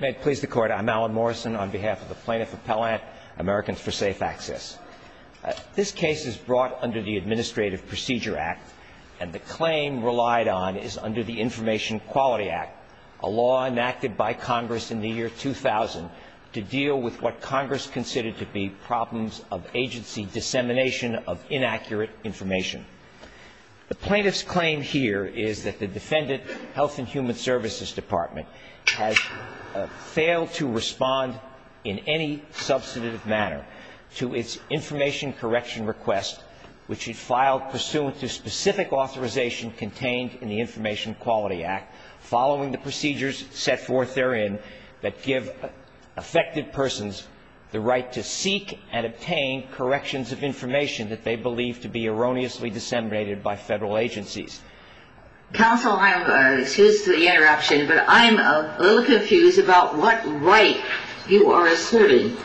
May it please the Court, I'm Alan Morrison on behalf of the Plaintiff Appellant, Americans for Safe Access. This case is brought under the Administrative Procedure Act, and the claim relied on is under the Information Quality Act, a law enacted by Congress in the year 2000 to deal with what Congress considered to be problems of agency dissemination of inaccurate information. The plaintiff's claim here is that the defendant, Health and Human Services Department, has failed to respond in any substantive manner to its information correction request, which it filed pursuant to specific authorization contained in the Information Quality Act, following the procedures set forth therein that give affected persons the right to seek and obtain corrections of information that they believe to be erroneously disseminated by Federal agencies. Counsel, excuse the interruption, but I'm a little confused about what right you are asserting.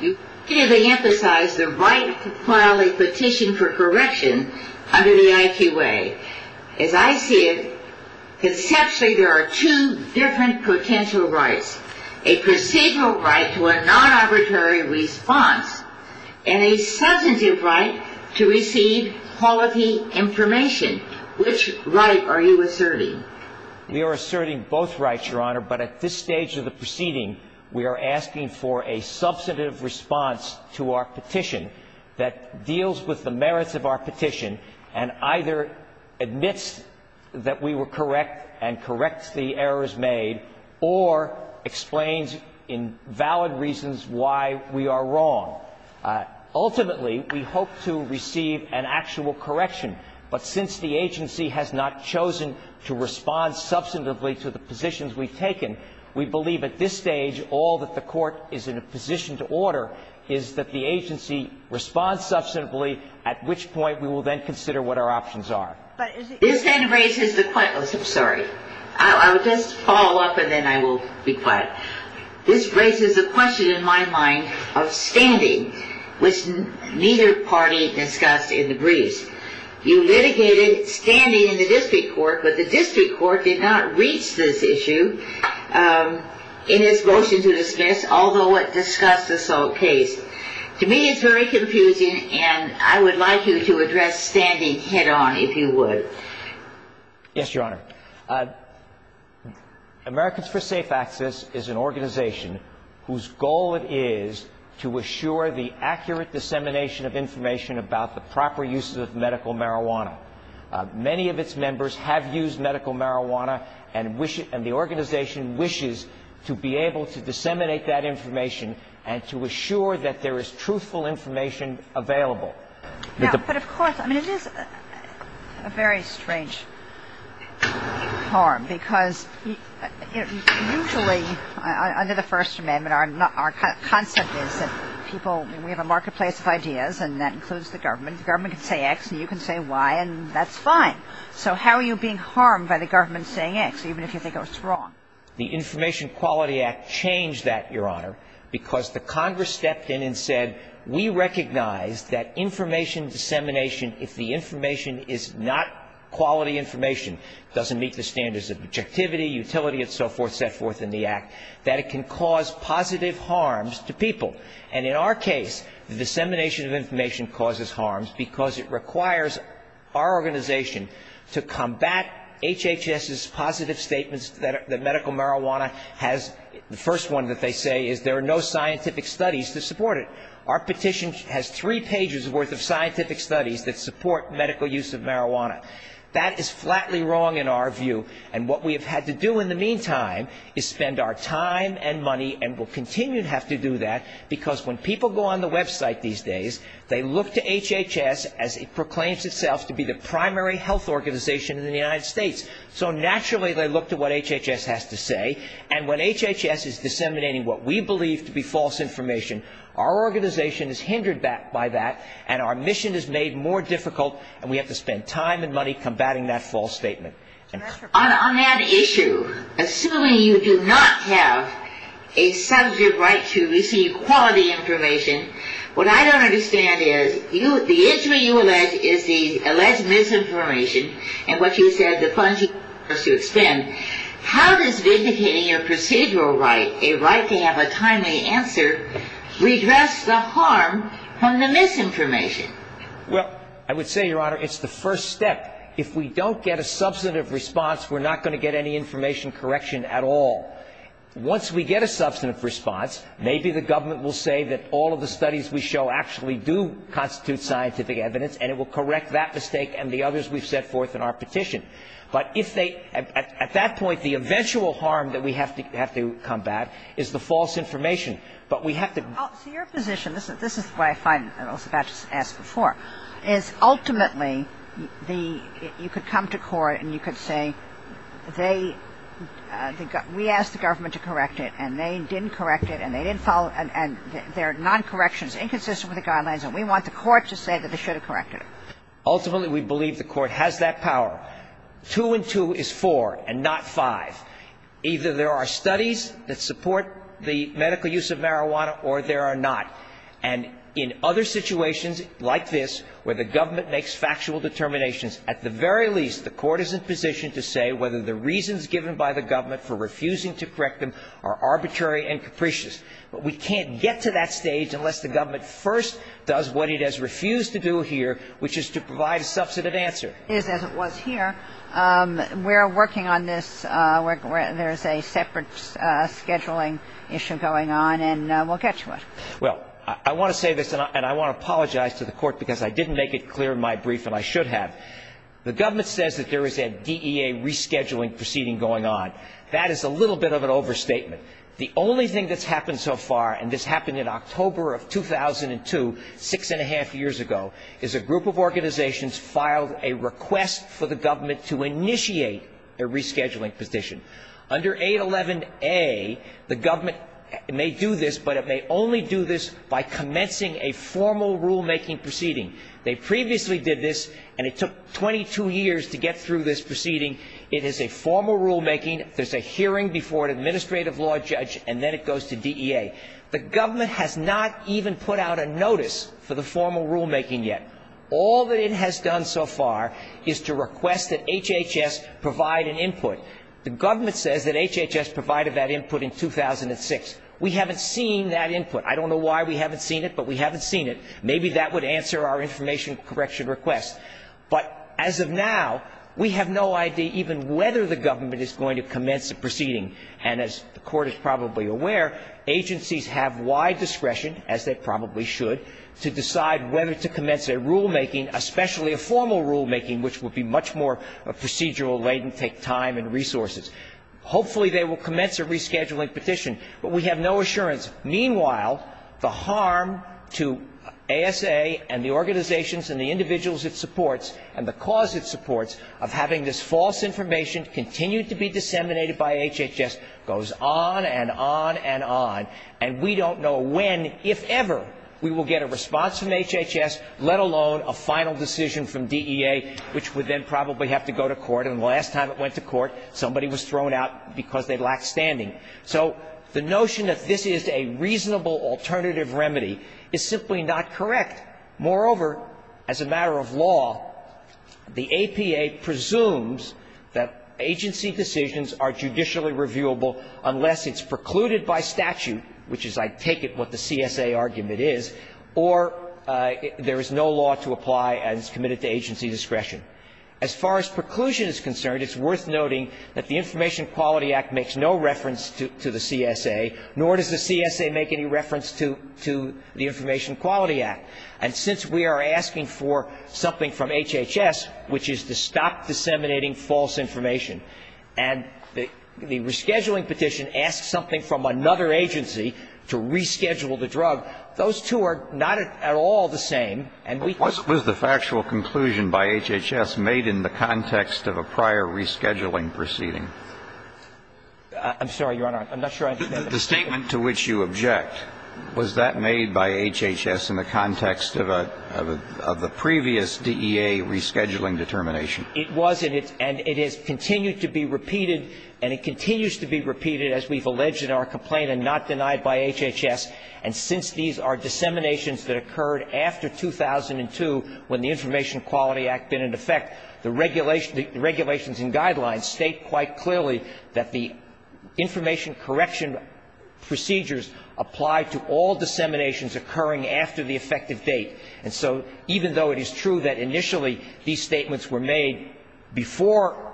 You clearly emphasize the right to file a petition for correction under the IQA. As I see it, conceptually there are two different potential rights. A procedural right to a non-arbitrary response and a substantive right to receive quality information. Which right are you asserting? We are asserting both rights, Your Honor, but at this stage of the proceeding, we are asking for a substantive response to our petition that deals with the merits of our petition and either admits that we were correct and corrects the errors made or explains in valid reasons why we are wrong. Ultimately, we hope to receive an actual correction. But since the agency has not chosen to respond substantively to the positions we've taken, we believe at this stage all that the Court is in a position to order is that the agency respond substantively, at which point we will then consider what our options are. This then raises the question of standing, which neither party discussed in the briefs. You litigated standing in the district court, but the district court did not reach this issue in its motion to dismiss, although it discussed this whole case. To me, it's very confusing, and I would like you to address standing head-on, if you would. Yes, Your Honor. Americans for Safe Access is an organization whose goal it is to assure the accurate dissemination of information about the proper use of medical marijuana. Many of its members have used medical marijuana, and the organization wishes to be able to disseminate that information and to assure that there is truthful information available. But of course, I mean, it is a very strange harm, because usually under the First Amendment, our concept is that people, we have a marketplace of ideas, and that includes the government. The government can say X, and you can say Y, and that's fine. So how are you being harmed by the government saying X, even if you think it was wrong? The Information Quality Act changed that, Your Honor, because the Congress stepped in and said, we recognize that information dissemination, if the information is not quality information, doesn't meet the standards of objectivity, utility, and so forth, set forth in the Act, that it can cause positive harms to people. And in our case, the dissemination of information causes harms because it requires our organization to combat HHS's positive statements that medical marijuana has, the first one that they say is there are no scientific studies to support it. Our petition has three pages' worth of scientific studies that support medical use of marijuana. That is flatly wrong in our view. And what we have had to do in the meantime is spend our time and money, and will continue to have to do that, because when people go on the website these days, they look to HHS as it proclaims itself to be the primary health organization in the United States. So naturally they look to what HHS has to say. And when HHS is disseminating what we believe to be false information, our organization is hindered by that, and our mission is made more difficult, and we have to spend time and money combating that false statement. On that issue, assuming you do not have a subject right to receive quality information, what I don't understand is the issue you allege is the alleged misinformation, and what you said the funds you use to expend. How does vindicating a procedural right, a right to have a timely answer, redress the harm from the misinformation? Well, I would say, Your Honor, it's the first step. If we don't get a substantive response, we're not going to get any information correction at all. Once we get a substantive response, maybe the government will say that all of the studies we show actually do constitute scientific evidence, and it will correct that mistake and the others we've set forth in our petition. But if they at that point, the eventual harm that we have to combat is the false information. But we have to. So your position, this is why I was about to ask before, is ultimately you could come to court and you could say, we asked the government to correct it, and they didn't correct it, and there are noncorrections inconsistent with the guidelines, and we want the court to say that they should have corrected it. Ultimately, we believe the court has that power. Two and two is four, and not five. Either there are studies that support the medical use of marijuana, or there are not. And in other situations like this, where the government makes factual determinations, at the very least, the court is in position to say whether the reasons given by the government for refusing to correct them are arbitrary and capricious. But we can't get to that stage unless the government first does what it has refused to do here, which is to provide a substantive answer. It is as it was here. We're working on this. There's a separate scheduling issue going on, and we'll get to it. Well, I want to say this, and I want to apologize to the court, because I didn't make it clear in my brief, and I should have. The government says that there is a DEA rescheduling proceeding going on. That is a little bit of an overstatement. The only thing that's happened so far, and this happened in October of 2002, six and a half years ago, is a group of organizations filed a request for the government to initiate a rescheduling position. Under 811A, the government may do this, but it may only do this by commencing a formal rulemaking proceeding. They previously did this, and it took 22 years to get through this proceeding. It is a formal rulemaking. There's a hearing before an administrative law judge, and then it goes to DEA. The government has not even put out a notice for the formal rulemaking yet. All that it has done so far is to request that HHS provide an input. The government says that HHS provided that input in 2006. We haven't seen that input. I don't know why we haven't seen it, but we haven't seen it. Maybe that would answer our information correction request. But as of now, we have no idea even whether the government is going to commence the proceeding. And as the Court is probably aware, agencies have wide discretion, as they probably should, to decide whether to commence a rulemaking, especially a formal rulemaking, which would be much more procedural, latent, take time and resources. Hopefully they will commence a rescheduling petition. But we have no assurance. Meanwhile, the harm to ASA and the organizations and the individuals it supports and the cause it supports of having this false information continue to be disseminated by HHS goes on and on and on. And we don't know when, if ever, we will get a response from HHS, let alone a final decision from DEA, which would then probably have to go to court. And the last time it went to court, somebody was thrown out because they lacked standing. So the notion that this is a reasonable alternative remedy is simply not correct. Moreover, as a matter of law, the APA presumes that agency decisions are judicially reviewable unless it's precluded by statute, which is, I take it, what the CSA argument is, or there is no law to apply and it's committed to agency discretion. As far as preclusion is concerned, it's worth noting that the Information Quality Act makes no reference to the CSA, nor does the CSA make any reference to the Information Quality Act. And since we are asking for something from HHS, which is to stop disseminating false information, and the rescheduling petition asks something from another agency to reschedule the drug, those two are not at all the same. And we can't do that. Kennedy. Was the factual conclusion by HHS made in the context of a prior rescheduling proceeding? I'm sorry, Your Honor. I'm not sure I understand. The statement to which you object, was that made by HHS in the context of a previous DEA rescheduling determination? It was, and it has continued to be repeated, and it continues to be repeated, as we've alleged in our complaint and not denied by HHS. And since these are disseminations that occurred after 2002 when the Information Quality Act had been in effect, the regulations and guidelines state quite clearly that the information correction procedures apply to all disseminations occurring after the effective date. And so even though it is true that initially these statements were made before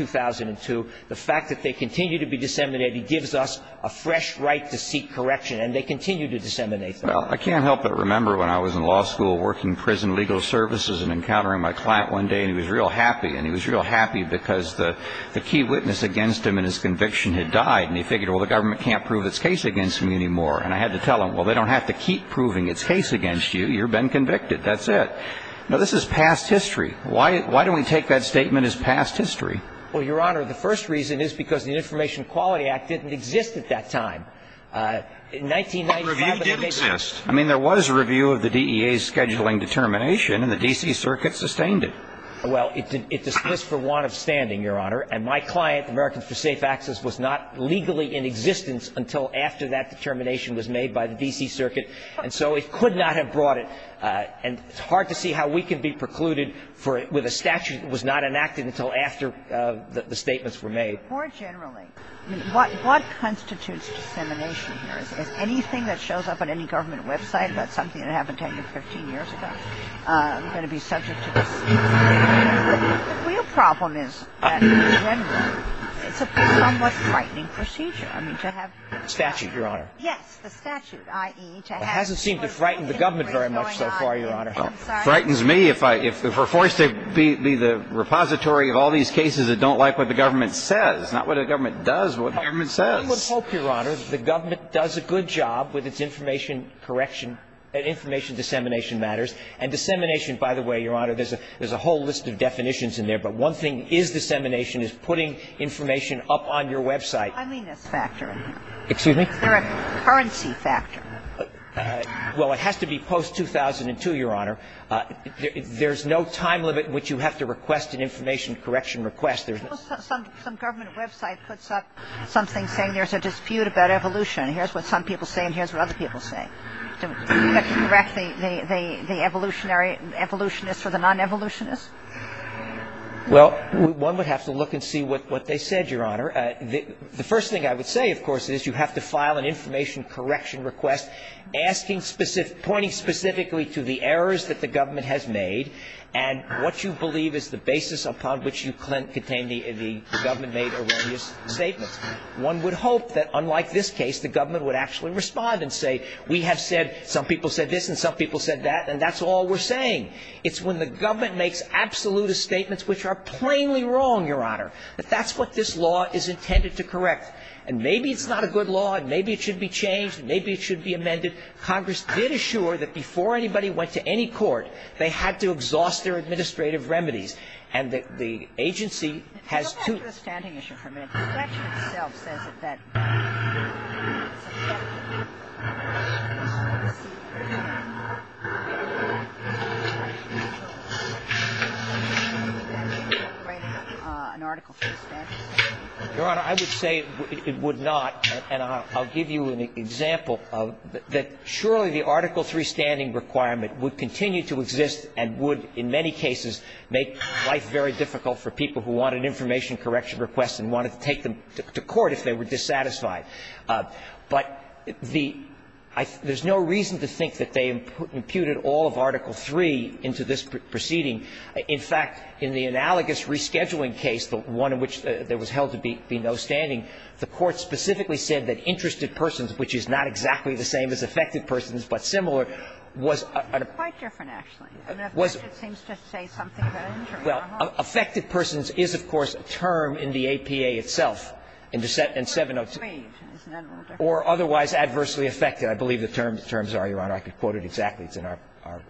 2002, the fact that they continue to be disseminated gives us a fresh right to seek correction, and they continue to disseminate them. Well, I can't help but remember when I was in law school working prison legal services and encountering my client one day, and he was real happy, and he was real happy because the key witness against him in his conviction had died, and he figured, well, the government can't prove its case against me anymore. And I had to tell him, well, they don't have to keep proving its case against you. You've been convicted. That's it. Now, this is past history. Why don't we take that statement as past history? Well, Your Honor, the first reason is because the Information Quality Act didn't exist at that time. In 1995, it did exist. I mean, there was a review of the DEA's scheduling determination, and the D.C. Circuit sustained it. Well, it dismissed for want of standing, Your Honor. And my client, Americans for Safe Access, was not legally in existence until after that determination was made by the D.C. Circuit, and so it could not have brought it. And it's hard to see how we can be precluded with a statute that was not enacted until after the statements were made. More generally, what constitutes dissemination here? Is anything that shows up on any government website about something that happened 10 or 15 years ago going to be subject to dissemination? The real problem is that, in general, it's a somewhat frightening procedure. I mean, to have... Statute, Your Honor. Yes, the statute, i.e. to have... It hasn't seemed to frighten the government very much so far, Your Honor. It frightens me if we're forced to be the repository of all these cases that don't like what the government says, not what the government does, but what the government says. I would hope, Your Honor, that the government does a good job with its information correction and information dissemination matters. And dissemination, by the way, Your Honor, there's a whole list of definitions in there, but one thing is dissemination is putting information up on your website. I mean this factor. Excuse me? Is there a currency factor? Well, it has to be post-2002, Your Honor. There's no time limit in which you have to request an information correction request. Some government website puts up something saying there's a dispute about evolution. Here's what some people say and here's what other people say. Do we have to correct the evolutionary evolutionists or the non-evolutionists? Well, one would have to look and see what they said, Your Honor. The first thing I would say, of course, is you have to file an information correction request pointing specifically to the errors that the government has made and what you believe is the basis upon which you contain the government made erroneous statements. One would hope that, unlike this case, the government would actually respond and say we have said some people said this and some people said that and that's all we're saying. It's when the government makes absolutist statements which are plainly wrong, Your Honor, that that's what this law is intended to correct. And maybe it's not a good law and maybe it should be changed and maybe it should be amended. Congress did assure that before anybody went to any court, they had to exhaust their administrative remedies. And the agency has to ---- Your Honor, I would say it would not. And I'll give you an example of that. Surely the Article 3 standing requirement would continue to exist and would, in many cases, make life very difficult for people who wanted information correction requests and wanted to take them to court if they were dissatisfied. But the ---- there's no reason to think that they imputed all of Article 3 into this proceeding. In fact, in the analogous rescheduling case, the one in which there was held to be no standing, the Court specifically said that interested persons, which is not exactly the same as affected persons but similar, was a ---- It's quite different, actually. It seems to say something about injury. Well, affected persons is, of course, a term in the APA itself. In 702. Or otherwise adversely affected. I believe the terms are, Your Honor. I could quote it exactly. It's in our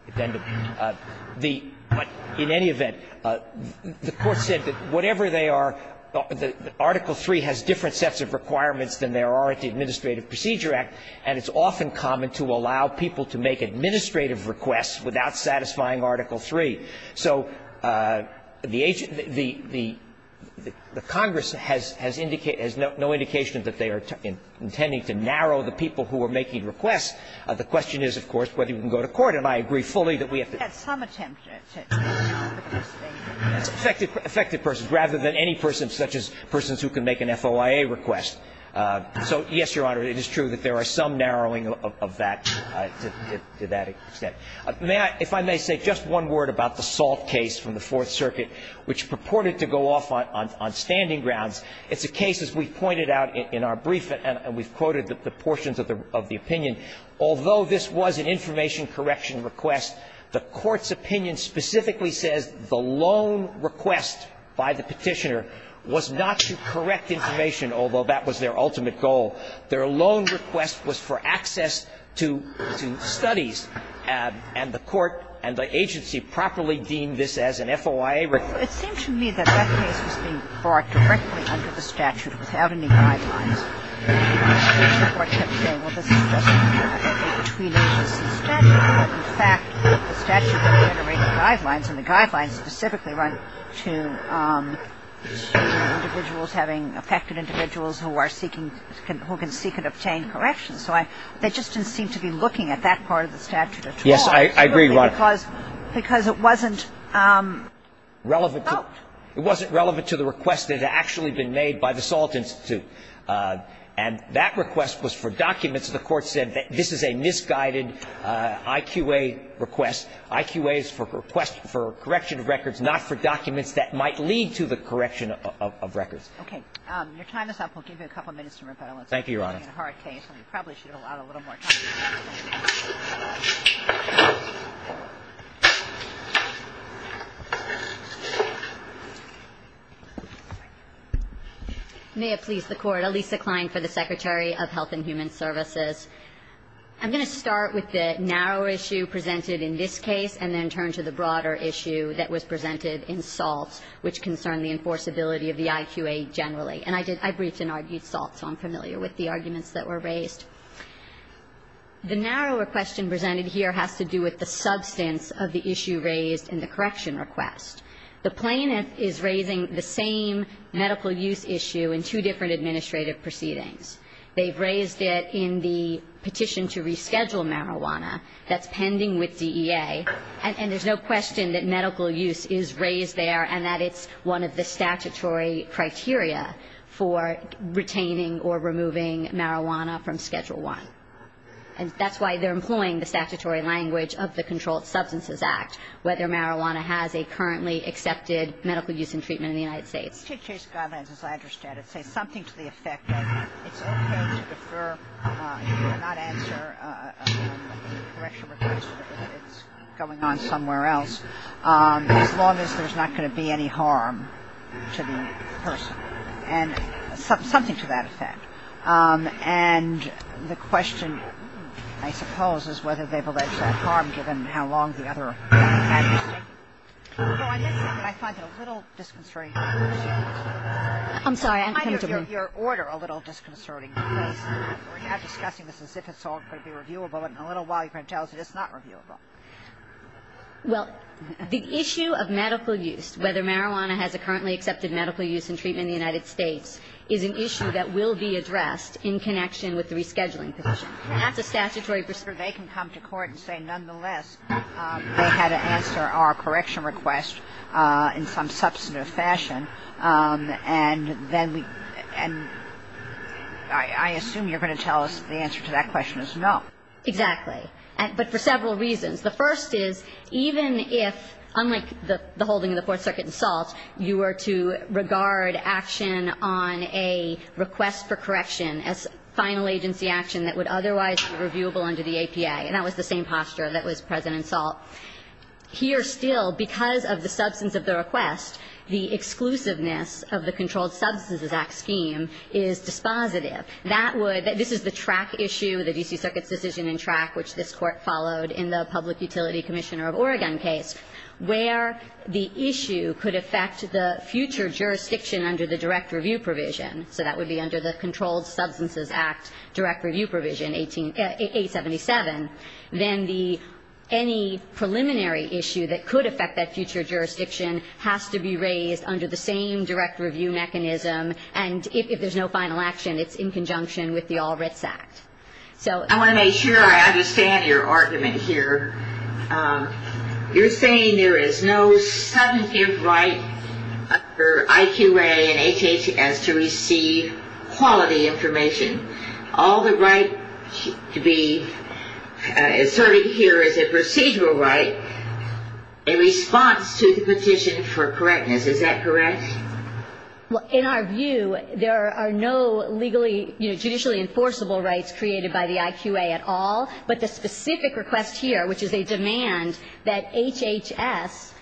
addendum. The ---- but in any event, the Court said that whatever they are, Article 3 has different sets of requirements than there are at the Administrative Procedure Act, and it's often common to allow people to make administrative requests without satisfying the requirements of Article 3. So the agent ---- the Congress has indicated ---- has no indication that they are intending to narrow the people who are making requests. The question is, of course, whether you can go to court. And I agree fully that we have to ---- But we had some attempt to ---- It's affected persons rather than any person such as persons who can make an FOIA request. So, yes, Your Honor, it is true that there are some narrowing of that to that extent. May I ---- if I may say just one word about the Salt case from the Fourth Circuit, which purported to go off on standing grounds. It's a case, as we pointed out in our brief, and we've quoted the portions of the opinion, although this was an information correction request, the Court's opinion specifically says the loan request by the petitioner was not to correct information, although that was their ultimate goal. So their loan request was for access to studies, and the Court and the agency properly deemed this as an FOIA request. It seems to me that that case was being brought directly under the statute without any guidelines. The Court kept saying, well, this is just between agencies. In fact, the statute generated guidelines, and the guidelines specifically run to individuals having ---- affected individuals who are seeking ---- who can seek and obtain corrections. So I ---- they just didn't seem to be looking at that part of the statute at all. Yes, I agree, Your Honor. Because it wasn't relevant to the request that had actually been made by the Salt Institute. And that request was for documents. The Court said that this is a misguided IQA request. IQA is for correction of records, not for documents that might lead to the correction of records. Okay. Your time is up. We'll give you a couple minutes to rebuttal. Thank you, Your Honor. It's a hard case, and you probably should have allowed a little more time. May it please the Court. Elisa Klein for the Secretary of Health and Human Services. I'm going to start with the narrow issue presented in this case and then turn to the broader issue that was presented in Salt, which concerned the enforceability of the IQA generally. And I did ---- I briefed and argued Salt, so I'm familiar with the arguments that were raised. The narrower question presented here has to do with the substance of the issue raised in the correction request. The plaintiff is raising the same medical use issue in two different administrative proceedings. They've raised it in the petition to reschedule marijuana that's pending with DEA, and there's no question that medical use is raised there and that it's one of the statutory criteria for retaining or removing marijuana from Schedule I. And that's why they're employing the statutory language of the Controlled Substances Act, whether marijuana has a currently accepted medical use and treatment in the United States. The State Chase Guidelines, as I understand it, say something to the effect that it's okay to defer, not answer a correction request if it's going on somewhere else as long as there's not going to be any harm to the person, and something to that effect. And the question, I suppose, is whether they've alleged harm given how long the other I'm sorry. Your order a little disconcerting. We're now discussing this as if it's all going to be reviewable, and in a little while you're going to tell us that it's not reviewable. Well, the issue of medical use, whether marijuana has a currently accepted medical use and treatment in the United States, is an issue that will be addressed in connection with the rescheduling petition. That's a statutory perspective. They can come to court and say, nonetheless, they had to answer our correction request in some substantive fashion, and then we and I assume you're going to tell us the answer to that question is no. Exactly. But for several reasons. The first is, even if, unlike the holding of the Fourth Circuit in Salt, you were to regard action on a request for correction as final agency action that would otherwise be reviewable under the APA, and that was the same posture that was present in Salt, here still, because of the substance of the request, the exclusiveness of the Controlled Substances Act scheme is dispositive. That would – this is the track issue, the D.C. Circuit's decision in track, which this Court followed in the Public Utility Commissioner of Oregon case, where the issue could affect the future jurisdiction under the direct review provision. So that would be under the Controlled Substances Act direct review provision, A-77, then any preliminary issue that could affect that future jurisdiction has to be raised under the same direct review mechanism, and if there's no final action, it's in conjunction with the All Writs Act. I want to make sure I understand your argument here. You're saying there is no substantive right under IQA and HHS to receive quality information. All the right to be asserted here is a procedural right in response to the petition for correctness. Is that correct? Well, in our view, there are no legally, you know, judicially enforceable rights created by the IQA at all, but the specific request here, which is a demand that HHS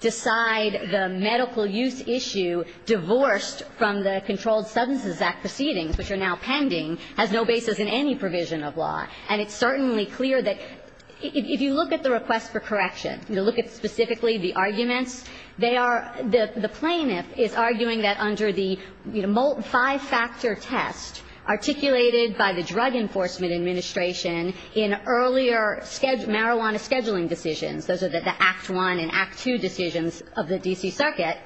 decide the medical use issue divorced from the Controlled Substances Act proceedings, which are now pending, has no basis in any provision of law. And it's certainly clear that if you look at the request for correction, you look at specifically the arguments, they are the plaintiff is arguing that under the, you know, five-factor test articulated by the Drug Enforcement Administration in earlier marijuana scheduling decisions, those are the Act I and Act II decisions of the D.C. Circuit,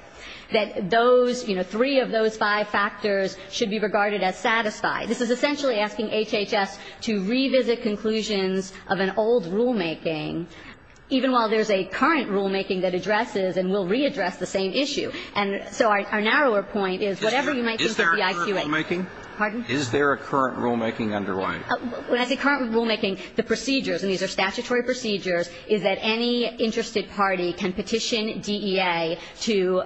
that those, you know, three of those five factors should be regarded as satisfied. This is essentially asking HHS to revisit conclusions of an old rulemaking, even while there's a current rulemaking that addresses and will readdress the same issue. And so our narrower point is whatever you might think of the IQA. Is there a current rulemaking? Pardon? Is there a current rulemaking underlying? As a current rulemaking, the procedures, and these are statutory procedures, is that any interested party can petition DEA to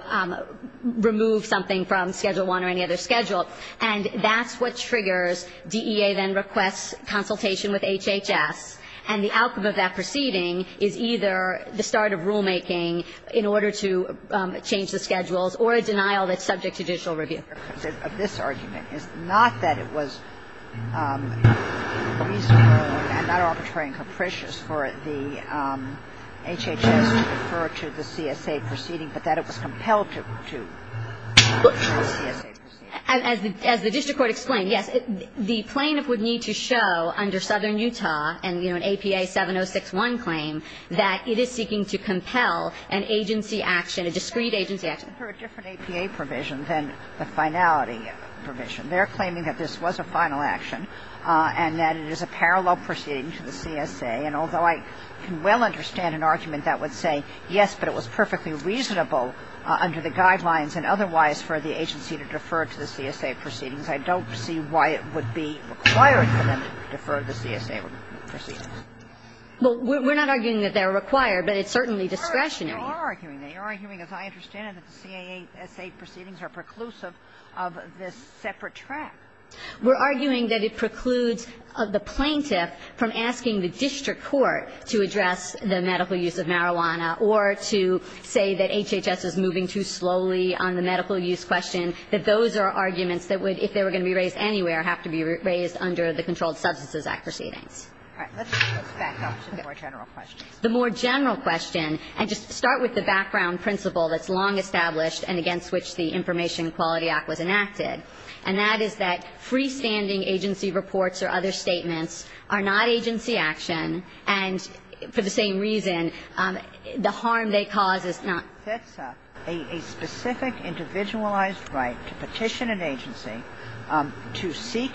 remove something from Schedule I. And that's what triggers DEA then requests consultation with HHS, and the outcome of that proceeding is either the start of rulemaking in order to change the schedules or a denial that's subject to judicial review. Of this argument, it's not that it was reasonable and not arbitrary and capricious for the HHS to refer to the CSA proceeding, but that it was compelled to refer to the And as the district court explained, yes, the plaintiff would need to show under Southern Utah and, you know, an APA 7061 claim that it is seeking to compel an agency action, a discrete agency action. For a different APA provision than the finality provision, they're claiming that this was a final action and that it is a parallel proceeding to the CSA. And although I can well understand an argument that would say yes, but it was perfectly reasonable under the guidelines and otherwise for the agency to defer to the CSA proceedings, I don't see why it would be required for them to defer the CSA proceedings. Well, we're not arguing that they're required, but it's certainly discretionary. You are arguing that. You're arguing, as I understand it, that the CSA proceedings are preclusive of this separate track. We're arguing that it precludes the plaintiff from asking the district court to address the medical use of marijuana or to say that HHS is moving too slowly on the medical use question, that those are arguments that would, if they were going to be raised anywhere, have to be raised under the Controlled Substances Act proceedings. All right. Let's move back up to the more general questions. The more general question, and just start with the background principle that's long established and against which the Information Equality Act was enacted, and that is that freestanding agency reports or other statements are not agency action, and for the same reason, the harm they cause is not. That's a specific individualized right to petition an agency to seek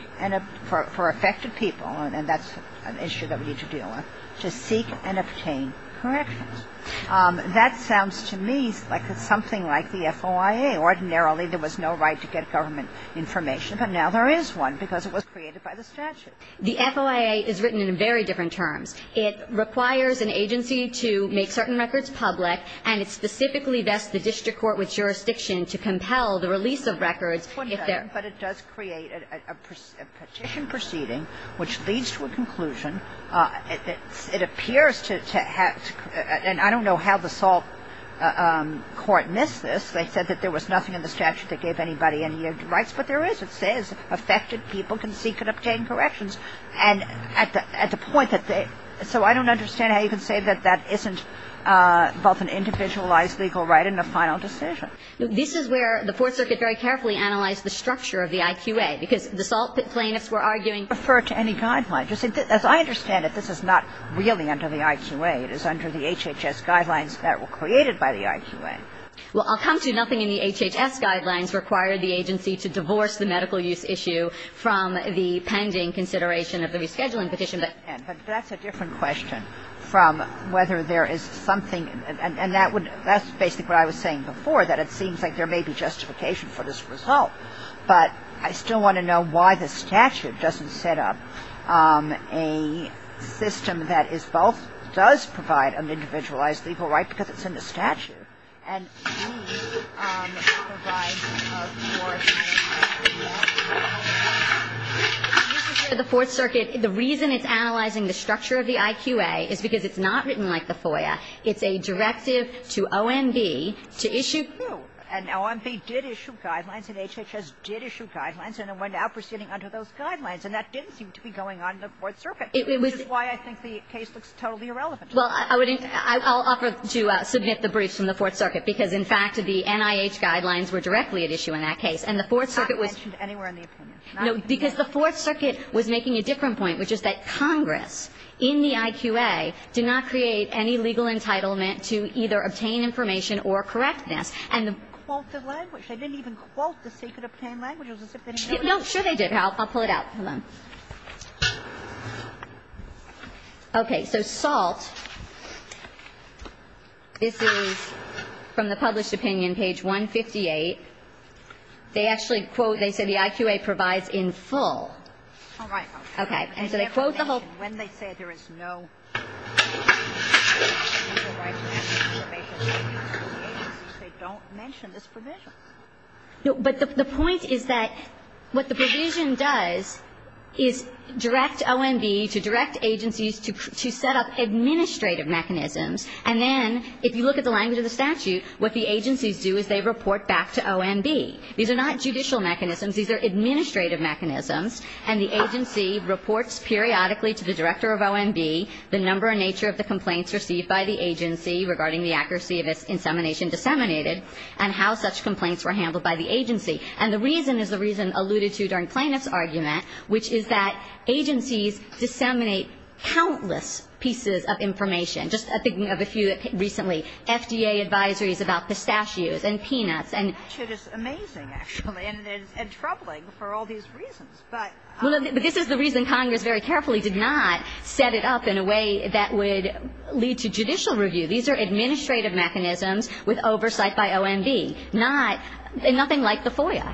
for affected people, and that's an issue that we need to deal with, to seek and obtain corrections. That sounds to me like it's something like the FOIA. Ordinarily, there was no right to get government information, but now there is one because it was created by the statute. The FOIA is written in very different terms. It requires an agency to make certain records public, and it specifically vests the district court with jurisdiction to compel the release of records if they're ---- But it does create a petition proceeding which leads to a conclusion. It appears to have to ---- and I don't know how the Salt Court missed this. They said that there was nothing in the statute that gave anybody any rights, but there is. It says affected people can seek and obtain corrections, and at the point that they ---- so I don't understand how you can say that that isn't both an individualized legal right and a final decision. This is where the Fourth Circuit very carefully analyzed the structure of the IQA because the Salt plaintiffs were arguing ---- Refer to any guidelines. As I understand it, this is not really under the IQA. It is under the HHS guidelines that were created by the IQA. Well, I'll come to nothing in the HHS guidelines required the agency to divorce the medical use issue from the pending consideration of the rescheduling petition, but ---- But that's a different question from whether there is something ---- and that would ---- that's basically what I was saying before, that it seems like there may be justification for this result, but I still want to know why the statute doesn't set up a system that is both ---- does provide an individualized legal right because it's in the statute and needs to provide a force for ---- The Fourth Circuit, the reason it's analyzing the structure of the IQA is because it's not written like the FOIA. It's a directive to OMB to issue ---- No. And OMB did issue guidelines, and HHS did issue guidelines, and it went out proceeding under those guidelines, and that didn't seem to be going on in the Fourth Circuit, which is why I think the case looks totally irrelevant. Well, I would ---- I'll offer to submit the brief from the Fourth Circuit because in fact the NIH guidelines were directly at issue in that case, and the Fourth Circuit was ---- It's not mentioned anywhere in the opinion. No, because the Fourth Circuit was making a different point, which is that Congress in the IQA did not create any legal entitlement to either obtain information or correct this, and the ---- Quote the language. They didn't even quote the secret obtained language. It was as if they didn't know it. No, sure they did. I'll pull it out. Hold on. Okay. So SALT, this is from the published opinion, page 158. They actually quote ---- they say the IQA provides in full. All right. Okay. And so they quote the whole ---- When they say there is no ---- They don't mention this provision. No, but the point is that what the provision does is direct OMB to direct agencies to set up administrative mechanisms, and then if you look at the language of the statute, what the agencies do is they report back to OMB. These are not judicial mechanisms. These are administrative mechanisms, and the agency reports periodically to the director of OMB the number and nature of the complaints received by the agency regarding the accuracy of its insemination disseminated and how such complaints were handled by the agency. And the reason is the reason alluded to during plaintiff's argument, which is that agencies disseminate countless pieces of information. Just thinking of a few recently, FDA advisories about pistachios and peanuts and ---- The statute is amazing, actually, and troubling for all these reasons, but ---- Well, this is the reason Congress very carefully did not set it up in a way that would lead to judicial review. These are administrative mechanisms with oversight by OMB, not ---- and nothing like the FOIA.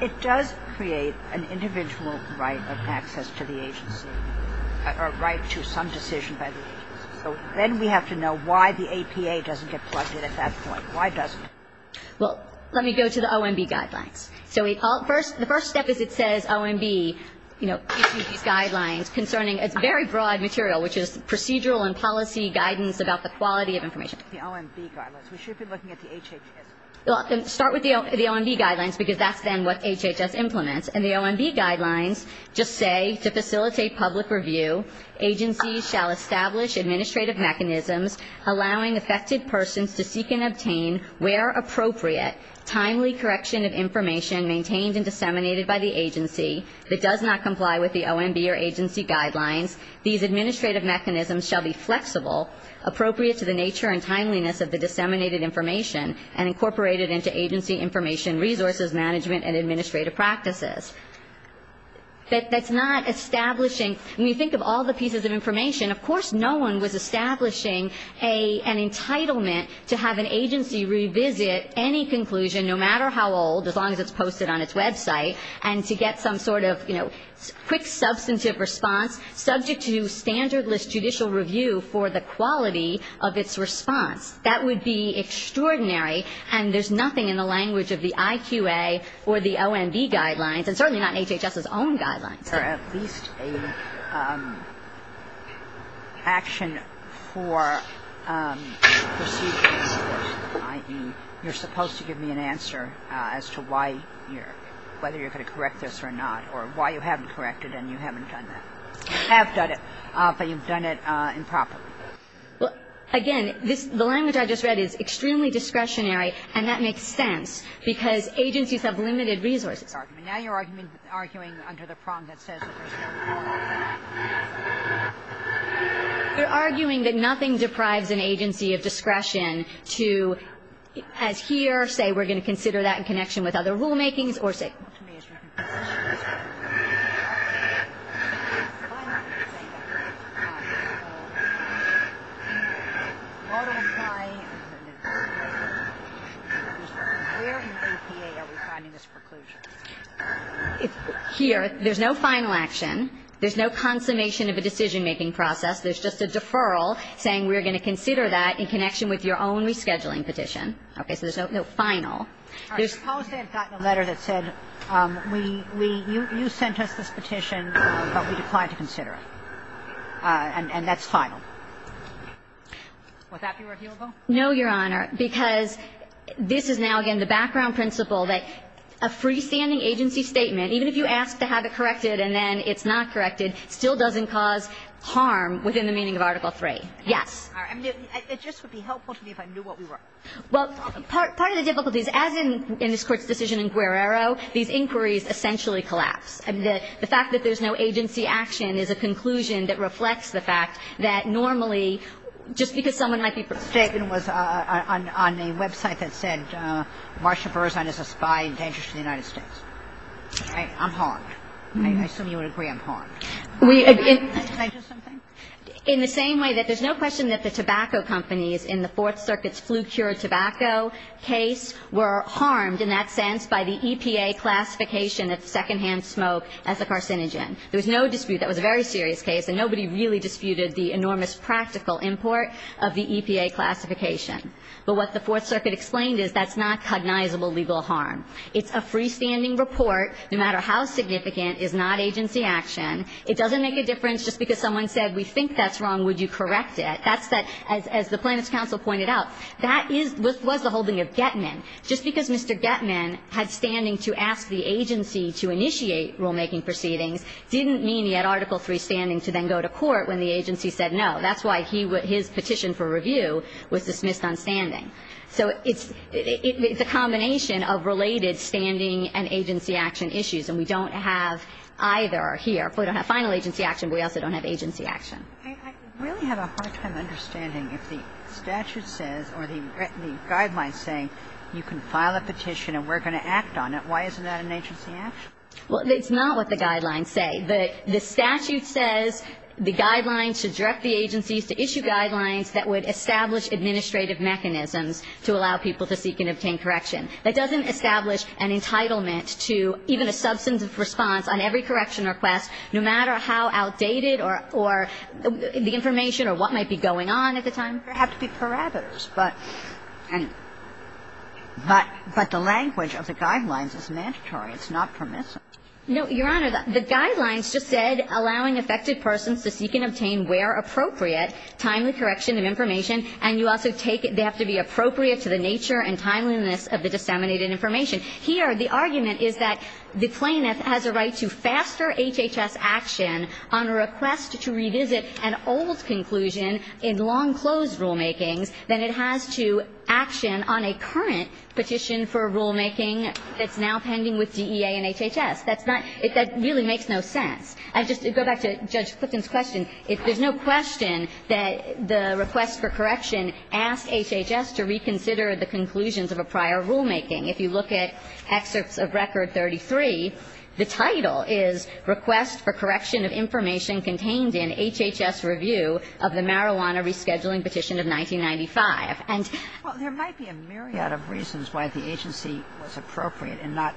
It does create an individual right of access to the agency, a right to some decision by the agency. So then we have to know why the APA doesn't get plugged in at that point. Why doesn't it? Well, let me go to the OMB guidelines. So the first step is it says OMB, you know, issued these guidelines concerning very broad material, which is procedural and policy guidance about the quality of information. The OMB guidelines. We should be looking at the HHS. Well, start with the OMB guidelines, because that's then what HHS implements. And the OMB guidelines just say, to facilitate public review, agencies shall establish administrative mechanisms allowing affected persons to seek and obtain, where appropriate, timely correction of information maintained and disseminated by the agency that does not comply with the OMB or agency guidelines. These administrative mechanisms shall be flexible, appropriate to the nature and timeliness of the disseminated information, and incorporated into agency information resources management and administrative practices. That's not establishing ---- when you think of all the pieces of information, of course no one was establishing an entitlement to have an agency revisit any conclusion, no matter how old, as long as it's posted on its website, and to get some sort of, you know, quick substantive response subject to standardless judicial review for the quality of its response. That would be extraordinary, and there's nothing in the language of the IQA or the OMB guidelines, and certainly not HHS's own guidelines. Is there at least a action for procedure coercion, i.e. you're supposed to give me an answer as to why you're ---- whether you're going to correct this or not, or why you haven't corrected and you haven't done that. You have done it, but you've done it improperly. Well, again, this ---- the language I just read is extremely discretionary, and that makes sense, because agencies have limited resources. Now you're arguing under the prong that says that there's no coercion. You're arguing that nothing deprives an agency of discretion to, as here, say we're going to consider that in connection with other rulemakings or say ---- Here, there's no final action. There's no consummation of a decision-making process. There's just a deferral saying we're going to consider that in connection with your own rescheduling petition. Okay. So there's no final. All right. Suppose they had gotten a letter that said we ---- you sent us this petition, but we declined to consider it. And that's final. Would that be reviewable? No, Your Honor, because this is now, again, the background principle that a freestanding agency statement, even if you ask to have it corrected and then it's not corrected, still doesn't cause harm within the meaning of Article III. Yes. All right. It just would be helpful to me if I knew what we were ---- Well, part of the difficulties, as in this Court's decision in Guerrero, these inquiries essentially collapse. I mean, the fact that there's no agency action is a conclusion that reflects the fact that normally, just because someone might be ---- The statement was on a website that said Marsha Burzon is a spy and dangerous to the United States. I'm harmed. I assume you would agree I'm harmed. Can I just say something? In the same way that there's no question that the tobacco companies in the Fourth Circuit's flu-cured tobacco case were harmed in that sense by the EPA classification of secondhand smoke as a carcinogen. There was no dispute. That was a very serious case, and nobody really disputed the enormous practical import of the EPA classification. But what the Fourth Circuit explained is that's not cognizable legal harm. It's a freestanding report, no matter how significant, is not agency action. It doesn't make a difference just because someone said, we think that's wrong, would you correct it? That's that, as the Plaintiffs' Counsel pointed out, that was the holding of Getman. Just because Mr. Getman had standing to ask the agency to initiate rulemaking proceedings didn't mean he had Article III standing to then go to court when the agency said no. That's why his petition for review was dismissed on standing. So it's a combination of related standing and agency action issues, and we don't have either here. We don't have final agency action, but we also don't have agency action. Kagan. I really have a hard time understanding if the statute says or the guidelines say you can file a petition and we're going to act on it. Why isn't that an agency action? Well, it's not what the guidelines say. The statute says the guidelines should direct the agencies to issue guidelines that would establish administrative mechanisms to allow people to seek and obtain correction. That doesn't establish an entitlement to even a substantive response on every correction request, no matter how outdated or the information or what might be going on at the time. There have to be parameters, but the language of the guidelines is mandatory. It's not permissive. No, Your Honor. The guidelines just said allowing affected persons to seek and obtain where appropriate timely correction of information, and you also take they have to be appropriate to the nature and timeliness of the disseminated information. Here, the argument is that the plaintiff has a right to faster HHS action on a request to revisit an old conclusion in long-closed rulemakings than it has to action on a current petition for rulemaking that's now pending with DEA and HHS. That's not – that really makes no sense. And just to go back to Judge Clifton's question, there's no question that the request for correction asks HHS to reconsider the conclusions of a prior rulemaking. If you look at excerpts of Record 33, the title is Request for Correction of Information Contained in HHS Review of the Marijuana Rescheduling Petition of 1995. And – Well, there might be a myriad of reasons why the agency was appropriate in not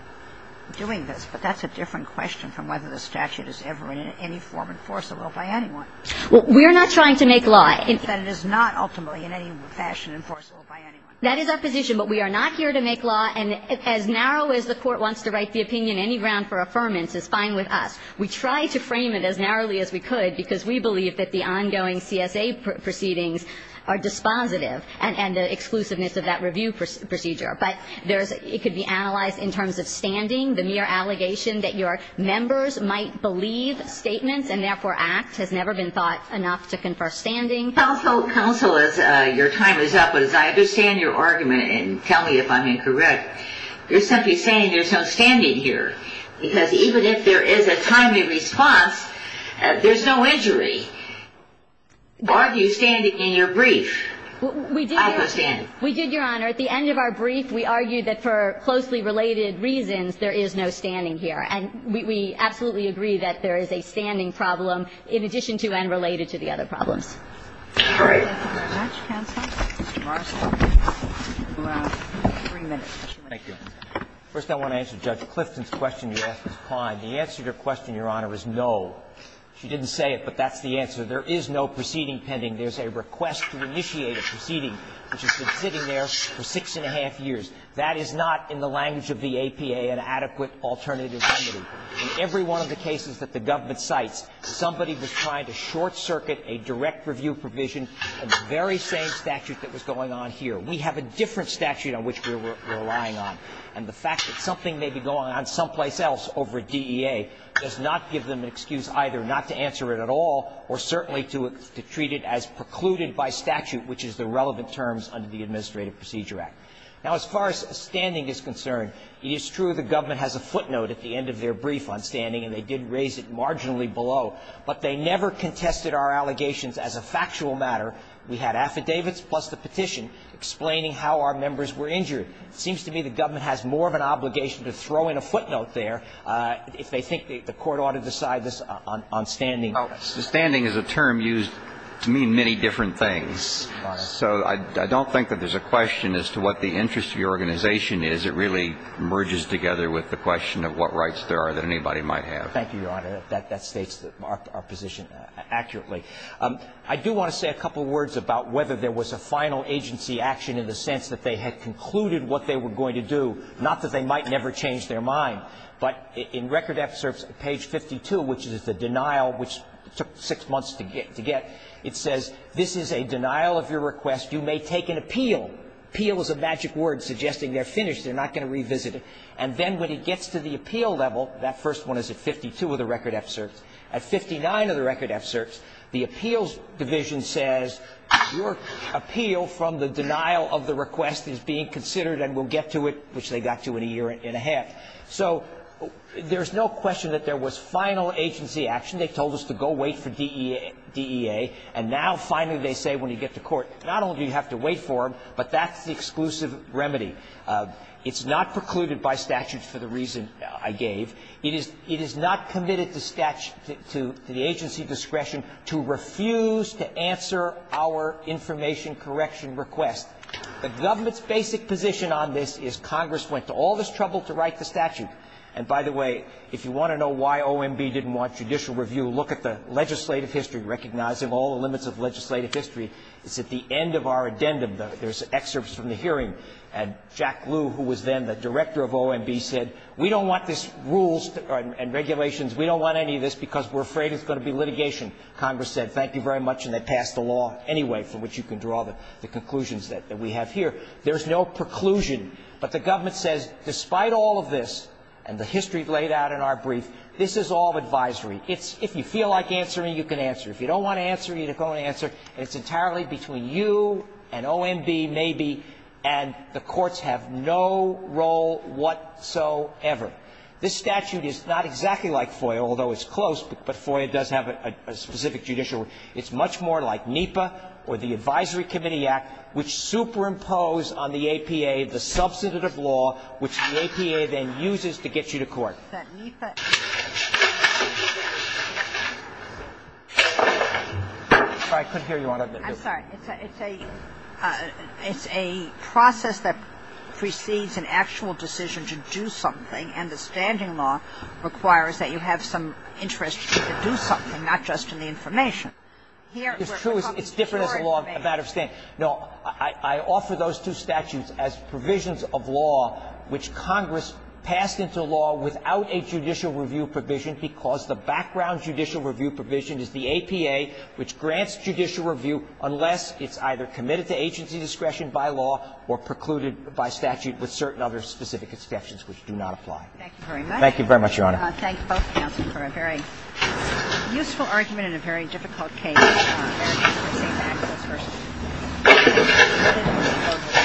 doing this, but that's a different question from whether the statute is ever in any form enforceable by anyone. Well, we are not trying to make law. And it is not ultimately in any fashion enforceable by anyone. That is our position. But we are not here to make law. And as narrow as the Court wants to write the opinion, any ground for affirmance is fine with us. We try to frame it as narrowly as we could because we believe that the ongoing CSA proceedings are dispositive and the exclusiveness of that review procedure. But there's – it could be analyzed in terms of standing. The mere allegation that your members might believe statements and therefore act has never been thought enough to confer standing. Counsel, your time is up, but as I understand your argument, and tell me if I'm incorrect, you're simply saying there's no standing here. Because even if there is a timely response, there's no injury. Are you standing in your brief? We did, Your Honor. At the end of our brief, we argued that for closely related reasons, there is no standing here. And we absolutely agree that there is a standing problem in addition to and related to the other problems. All right. Thank you very much, Counsel. Mr. Marshall, you have three minutes. Thank you. First, I want to answer Judge Clifton's question you asked Ms. Klein. The answer to her question, Your Honor, is no. She didn't say it, but that's the answer. There is no proceeding pending. There's a request to initiate a proceeding which has been sitting there for six and a half years. That is not, in the language of the APA, an adequate alternative remedy. In every one of the cases that the government cites, somebody was trying to short review provision of the very same statute that was going on here. We have a different statute on which we're relying on. And the fact that something may be going on someplace else over DEA does not give them an excuse either not to answer it at all or certainly to treat it as precluded by statute, which is the relevant terms under the Administrative Procedure Act. Now, as far as standing is concerned, it is true the government has a footnote at the end of their brief on standing, and they did raise it marginally below. But they never contested our allegations as a factual matter. We had affidavits plus the petition explaining how our members were injured. It seems to me the government has more of an obligation to throw in a footnote there if they think the Court ought to decide this on standing. The standing is a term used to mean many different things. So I don't think that there's a question as to what the interest of your organization is. It really merges together with the question of what rights there are that anybody might have. Thank you, Your Honor. That states our position accurately. I do want to say a couple of words about whether there was a final agency action in the sense that they had concluded what they were going to do, not that they might never change their mind. But in record excerpts, page 52, which is the denial, which took six months to get, it says, This is a denial of your request. You may take an appeal. Appeal is a magic word suggesting they're finished, they're not going to revisit And then when it gets to the appeal level, that first one is at 52 of the record excerpts. At 59 of the record excerpts, the appeals division says, Your appeal from the denial of the request is being considered and we'll get to it, which they got to in a year and a half. So there's no question that there was final agency action. They told us to go wait for DEA. And now finally they say when you get to court, not only do you have to wait for them, but that's the exclusive remedy. It's not precluded by statute for the reason I gave. It is not committed to the agency discretion to refuse to answer our information correction request. The government's basic position on this is Congress went to all this trouble to write the statute. And by the way, if you want to know why OMB didn't want judicial review, look at the legislative history, recognizing all the limits of legislative history. It's at the end of our addendum. There's excerpts from the hearing. And Jack Lew, who was then the director of OMB, said, We don't want this rules and regulations. We don't want any of this because we're afraid it's going to be litigation. Congress said, Thank you very much. And they passed the law anyway, from which you can draw the conclusions that we have here. There's no preclusion. But the government says, Despite all of this and the history laid out in our brief, this is all advisory. If you feel like answering, you can answer. If you don't want to answer, you can go and answer. And it's entirely between you and OMB, maybe, and the courts have no role whatsoever. This statute is not exactly like FOIA, although it's close. But FOIA does have a specific judicial rule. It's much more like NEPA or the Advisory Committee Act, which superimpose on the APA the substantive law, which the APA then uses to get you to court. It's a process that precedes an actual decision to do something, and the standing law requires that you have some interest to do something, not just in the information. It's true. It's different as a matter of statute. No, I offer those two statutes as provisions of law, which Congress passed into law without a judicial review provision, because the background judicial review provision is the APA, which grants judicial review unless it's either committed to agency discretion by law or precluded by statute with certain other specific exceptions which do not apply. Thank you very much. Thank you very much, Your Honor. I thank both counsel for a very useful argument and a very difficult case. Thank you.